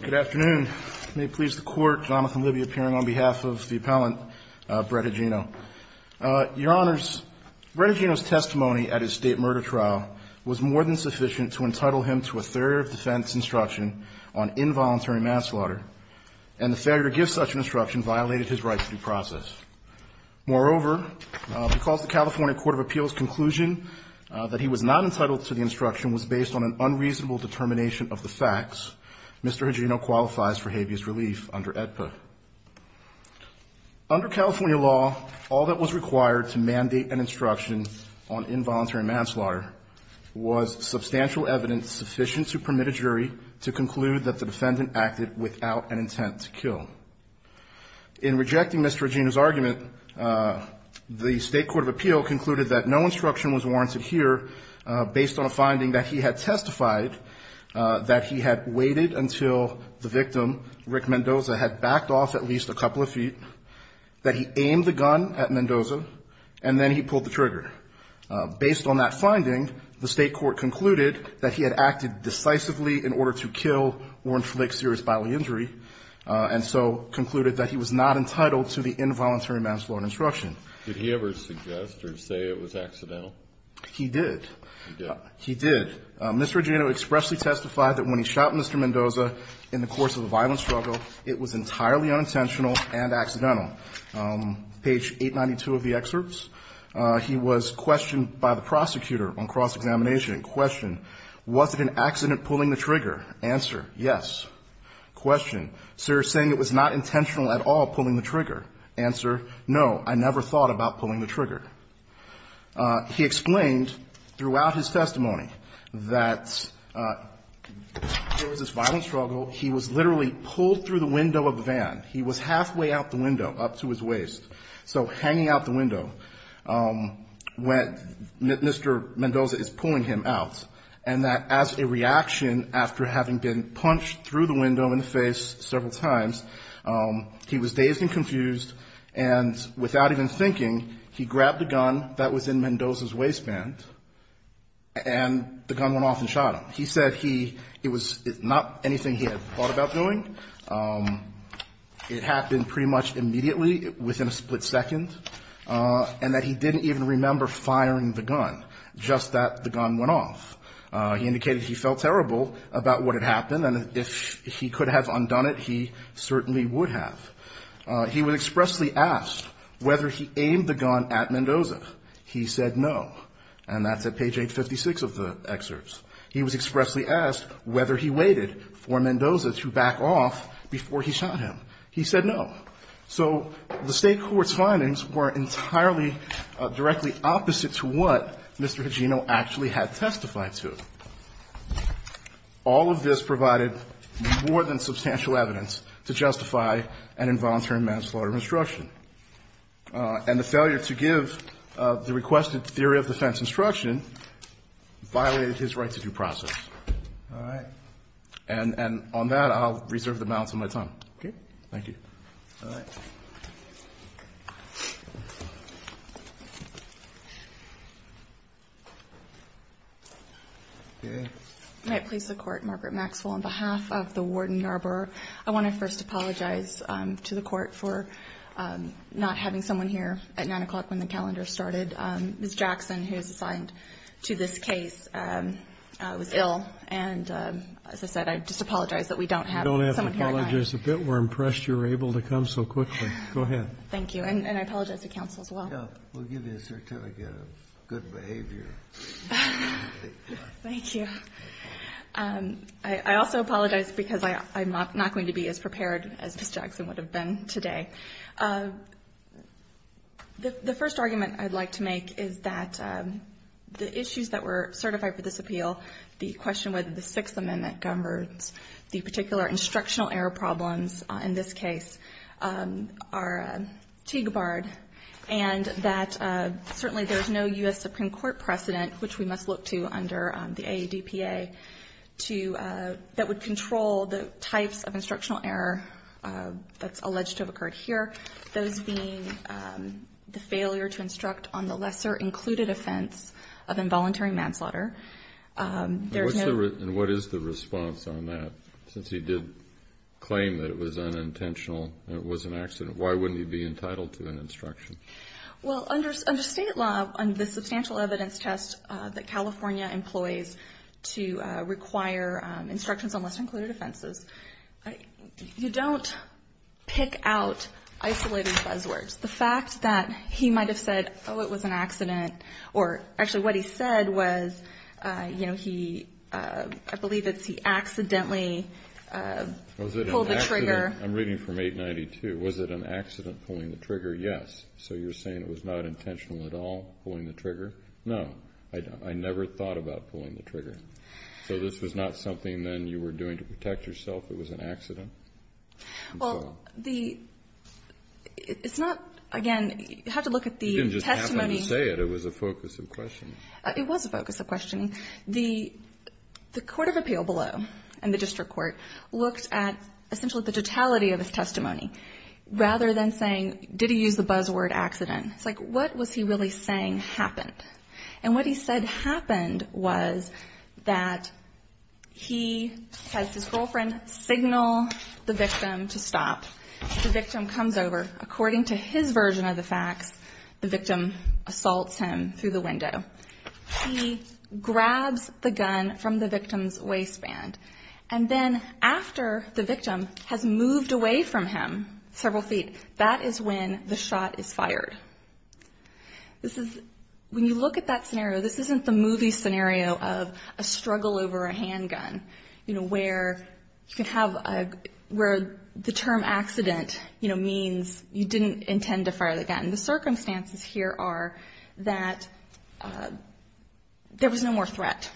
Good afternoon. May it please the Court, Jonathan Libby appearing on behalf of the appellant, Brett Hagenno. Your Honors, Brett Hagenno's testimony at his state murder trial was more than sufficient to entitle him to a failure of defense instruction on involuntary mass slaughter, and the failure to give such an instruction violated his right to due process. Moreover, because the California Court of Appeals' conclusion that he was not entitled to the instruction was based on an unreasonable determination of the facts, Mr. Hagenno qualifies for habeas relief under AEDPA. Under California law, all that was required to mandate an instruction on involuntary mass slaughter was substantial evidence sufficient to permit a jury to conclude that the defendant acted without an intent to kill. In rejecting Mr. Hagenno's argument, the State Court of Appeal concluded that no instruction was warranted here based on a finding that he had testified that he had waited until the victim, Rick Mendoza, had backed off at least a couple of feet, that he aimed the gun at Mendoza, and then he pulled the trigger. Based on that finding, the State Court concluded that he had acted decisively in order to kill or inflict serious bodily injury, and so concluded that he was not entitled to the involuntary mass slaughter instruction. Did he ever suggest or say it was accidental? He did. He did. Mr. Hagenno expressly testified that when he shot Mr. Mendoza in the course of a violent struggle, it was entirely unintentional and accidental. Page 892 of the excerpts, he was questioned by the prosecutor on cross-examination. Question. Was it an accident pulling the trigger? Answer. Yes. Question. Sir is saying it was not intentional at all pulling the trigger. Answer. No, I never thought about pulling the trigger. He explained throughout his testimony that there was this violent struggle. He was literally pulled through the window of a van. He was halfway out the window, up to his waist, so hanging out the window when Mr. Mendoza is pulling him out, and that as a reaction after having been punched through the window in the face several times, he was dazed and confused, and without even thinking, he grabbed the gun that was in Mendoza's waistband, and the gun went off and shot him. He said it was not anything he had thought about doing. It happened pretty much immediately, within a split second, and that he didn't even remember firing the gun, just that the gun went off. He indicated he felt terrible about what had happened, and if he could have undone it, he certainly would have. He was expressly asked whether he aimed the gun at Mendoza. He said no, and that's at page 856 of the excerpts. He was expressly asked whether he waited for Mendoza to back off before he shot him. He said no. So the State court's findings were entirely directly opposite to what Mr. Higino actually had testified to. All of this provided more than substantial evidence to justify an involuntary manslaughter instruction, and the failure to give the requested theory of defense instruction violated his right to due process. All right? And on that, I'll reserve the balance of my time. Okay? Thank you. All right. May I please support Margaret Maxwell on behalf of the Warden Yarborough? I want to first apologize to the Court for not having someone here at 9 o'clock when the calendar started. Ms. Jackson, who is assigned to this case, was ill, and as I said, I just apologize that we don't have someone here on time. You don't have to apologize a bit. We're impressed you were able to come so quickly. Go ahead. Thank you. And I apologize to counsel as well. We'll give you a certificate of good behavior. Thank you. I also apologize because I'm not going to be as prepared as Ms. Jackson would have been today. The first argument I'd like to make is that the issues that were certified for this appeal, the question whether the Sixth Amendment governs the particular instructional error problems in this case, are TIGA-barred, and that certainly there's no U.S. Supreme Court precedent, which we must look to under the AADPA, to that would control the types of instructional error that's alleged to have occurred here, those being the failure to instruct on the lesser included offense of involuntary manslaughter. And what is the response on that, since he did claim that it was unintentional and it was an accident? Why wouldn't he be entitled to an instruction? Well, under state law, under the substantial evidence test that California employs to require instructions on lesser included offenses, you don't pick out isolated buzzwords. The fact that he might have said, oh, it was an accident, or actually what he said was, you know, I believe it's he accidentally pulled the trigger. I'm reading from 892. Was it an accident pulling the trigger? Yes. So you're saying it was not intentional at all, pulling the trigger? No. I never thought about pulling the trigger. So this was not something then you were doing to protect yourself? It was an accident? Well, it's not, again, you have to look at the testimony. You didn't just happen to say it. It was a focus of questioning. It was a focus of questioning. The court of appeal below and the district court looked at essentially the totality of his testimony, rather than saying, did he use the buzzword accident? It's like, what was he really saying happened? And what he said happened was that he has his girlfriend signal the victim to stop. The victim comes over. According to his version of the facts, the victim assaults him through the window. He grabs the gun from the victim's waistband. And then after the victim has moved away from him several feet, that is when the shot is fired. When you look at that scenario, this isn't the movie scenario of a struggle over a handgun, where the term accident means you didn't intend to fire the gun. The circumstances here are that there was no more threat,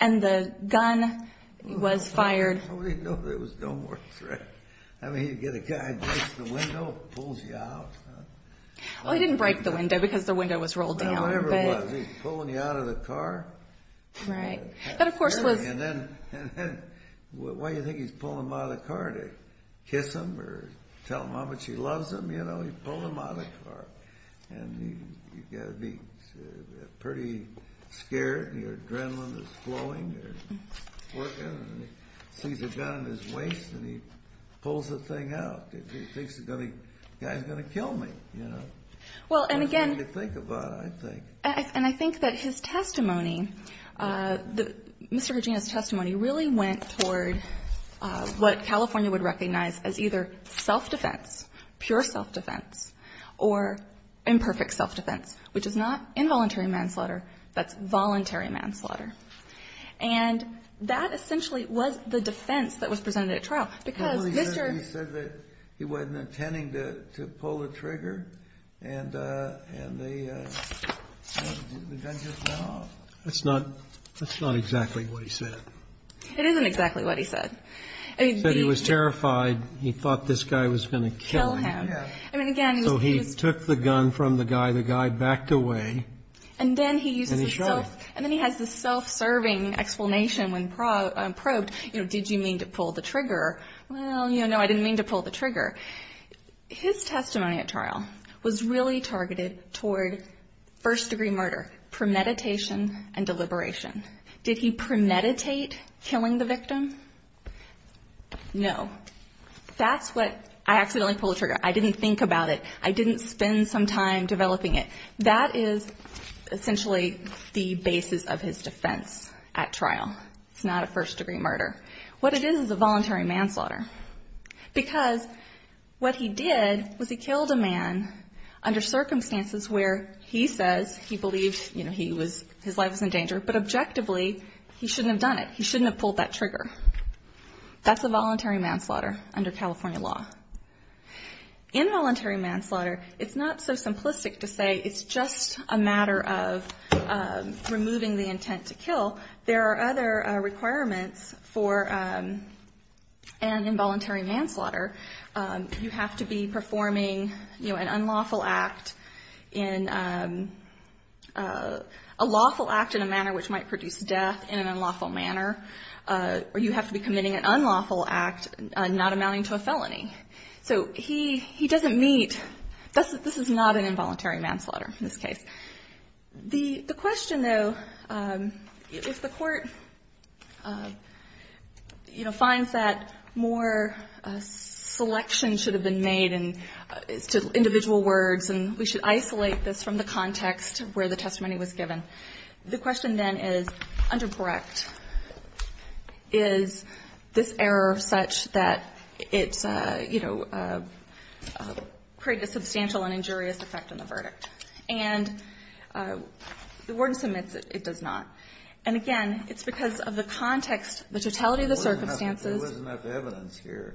and the gun was fired. Nobody knew there was no more threat. I mean, you get a guy breaks the window, pulls you out. Well, he didn't break the window because the window was rolled down. Whatever it was, he's pulling you out of the car. Right. That, of course, was... And then why do you think he's pulling him out of the car? To kiss him or tell him how much he loves him? He pulled him out of the car. And you've got to be pretty scared, and your adrenaline is flowing. He sees a gun in his waist, and he pulls the thing out. He thinks the guy's going to kill me. Well, and again... That's the way to think about it, I think. And I think that his testimony, Mr. Regina's testimony, really went toward what California would recognize as either self-defense, pure self-defense, or imperfect self-defense, which is not involuntary manslaughter. That's voluntary manslaughter. And that essentially was the defense that was presented at trial, because Mr. Well, he said that he wasn't intending to pull the trigger, and the gun just fell off. That's not exactly what he said. It isn't exactly what he said. He said he was terrified. He thought this guy was going to kill him. Yeah. I mean, again, he was... So he took the gun from the guy. The guy backed away. And then he uses the self... And he shot him. And then he has this self-serving explanation when probed, you know, did you mean to pull the trigger? Well, you know, no, I didn't mean to pull the trigger. His testimony at trial was really targeted toward first-degree murder, premeditation, and deliberation. Did he premeditate killing the victim? No. That's what... I accidentally pulled the trigger. I didn't think about it. I didn't spend some time developing it. That is essentially the basis of his defense at trial. It's not a first-degree murder. What it is is a voluntary manslaughter. Because what he did was he killed a man under circumstances where he says he believed, you know, his life was in danger, but objectively he shouldn't have done it. He shouldn't have pulled that trigger. That's a voluntary manslaughter under California law. Involuntary manslaughter, it's not so simplistic to say it's just a matter of removing the intent to kill. There are other requirements for an involuntary manslaughter. You have to be performing, you know, an unlawful act in a lawful act in a manner which might produce death in an unlawful manner. Or you have to be committing an unlawful act not amounting to a felony. So he doesn't meet... This is not an involuntary manslaughter in this case. The question, though, if the court, you know, finds that more selection should have been made to individual words and we should isolate this from the context where the testimony was given, the question then is under correct. Is this error such that it's, you know, created a substantial and injurious effect on the verdict? And the warden submits it does not. And again, it's because of the context, the totality of the circumstances. There wasn't enough evidence here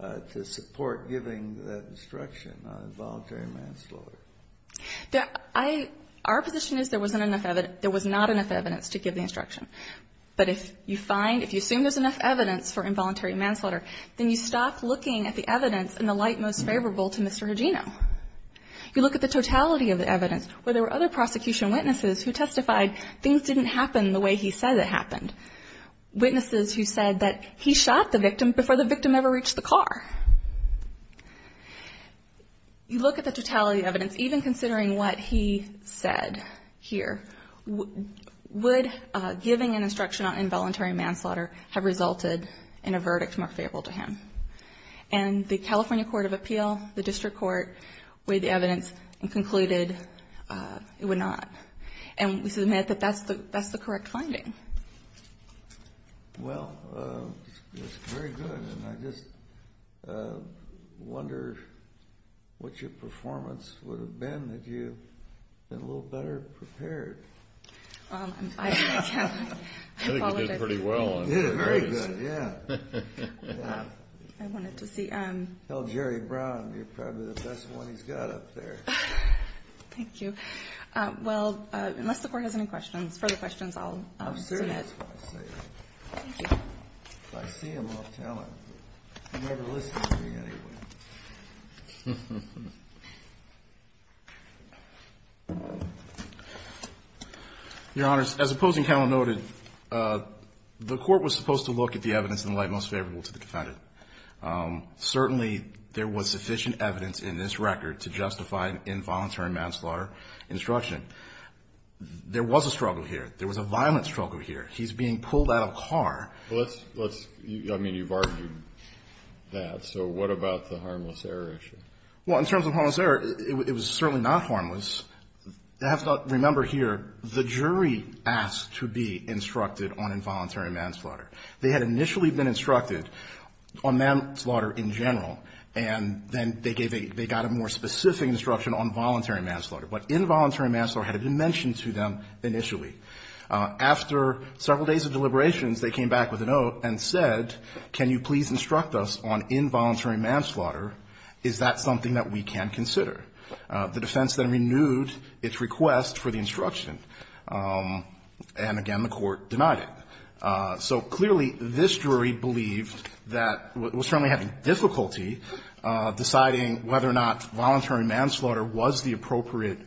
to support giving that instruction on involuntary manslaughter. Our position is there wasn't enough evidence, there was not enough evidence to give the instruction. But if you find, if you assume there's enough evidence for involuntary manslaughter, then you stop looking at the evidence in the light most favorable to Mr. Hugino. You look at the totality of the evidence where there were other prosecution witnesses who testified things didn't happen the way he said it happened. Witnesses who said that he shot the victim before the victim ever reached the car. You look at the totality of the evidence, even considering what he said here, would giving an instruction on involuntary manslaughter have resulted in a verdict more favorable to him? And the California Court of Appeal, the district court, weighed the evidence and concluded it would not. And we submit that that's the correct finding. Well, that's very good. And I just wonder what your performance would have been if you had been a little better prepared. I apologize. I think you did pretty well. Very good, yeah. I wanted to see. Jerry Brown, you're probably the best one he's got up there. Thank you. Well, unless the Court has any questions, further questions, I'll submit. I'm serious when I say that. Thank you. I see him off-talent, but he never listens to me anyway. Your Honors, as Opposing Counsel noted, the Court was supposed to look at the evidence in the light most favorable to the defendant. Certainly there was sufficient evidence in this record to justify involuntary manslaughter instruction. There was a struggle here. There was a violent struggle here. He's being pulled out of a car. Well, let's, I mean, you've argued that. So what about the harmless error issue? Well, in terms of harmless error, it was certainly not harmless. Remember here, the jury asked to be instructed on involuntary manslaughter. They had initially been instructed on manslaughter in general, and then they gave a, they got a more specific instruction on voluntary manslaughter. But involuntary manslaughter had been mentioned to them initially. After several days of deliberations, they came back with a note and said, can you please instruct us on involuntary manslaughter? Is that something that we can consider? The defense then renewed its request for the instruction. And again, the Court denied it. So clearly this jury believed that it was certainly having difficulty deciding whether or not voluntary manslaughter was the appropriate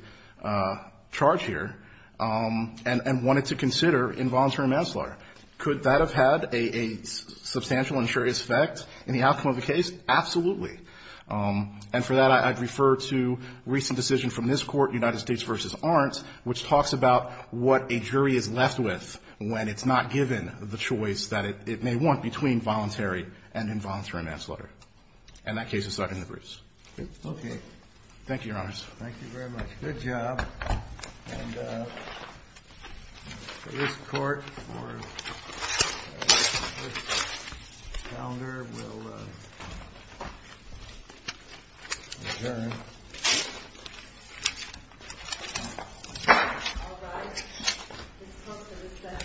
charge here and wanted to consider involuntary manslaughter. Could that have had a substantial and serious effect in the outcome of the case? Absolutely. And for that, I'd refer to a recent decision from this Court, United States v. Arndt, which talks about what a jury is left with when it's not given the choice that it may want between voluntary and involuntary manslaughter. And that case is second to Bruce. Okay. Thank you, Your Honors. Thank you very much. Good job. And this Court for this calendar will adjourn. All rise. This Court is adjourned. Thank you.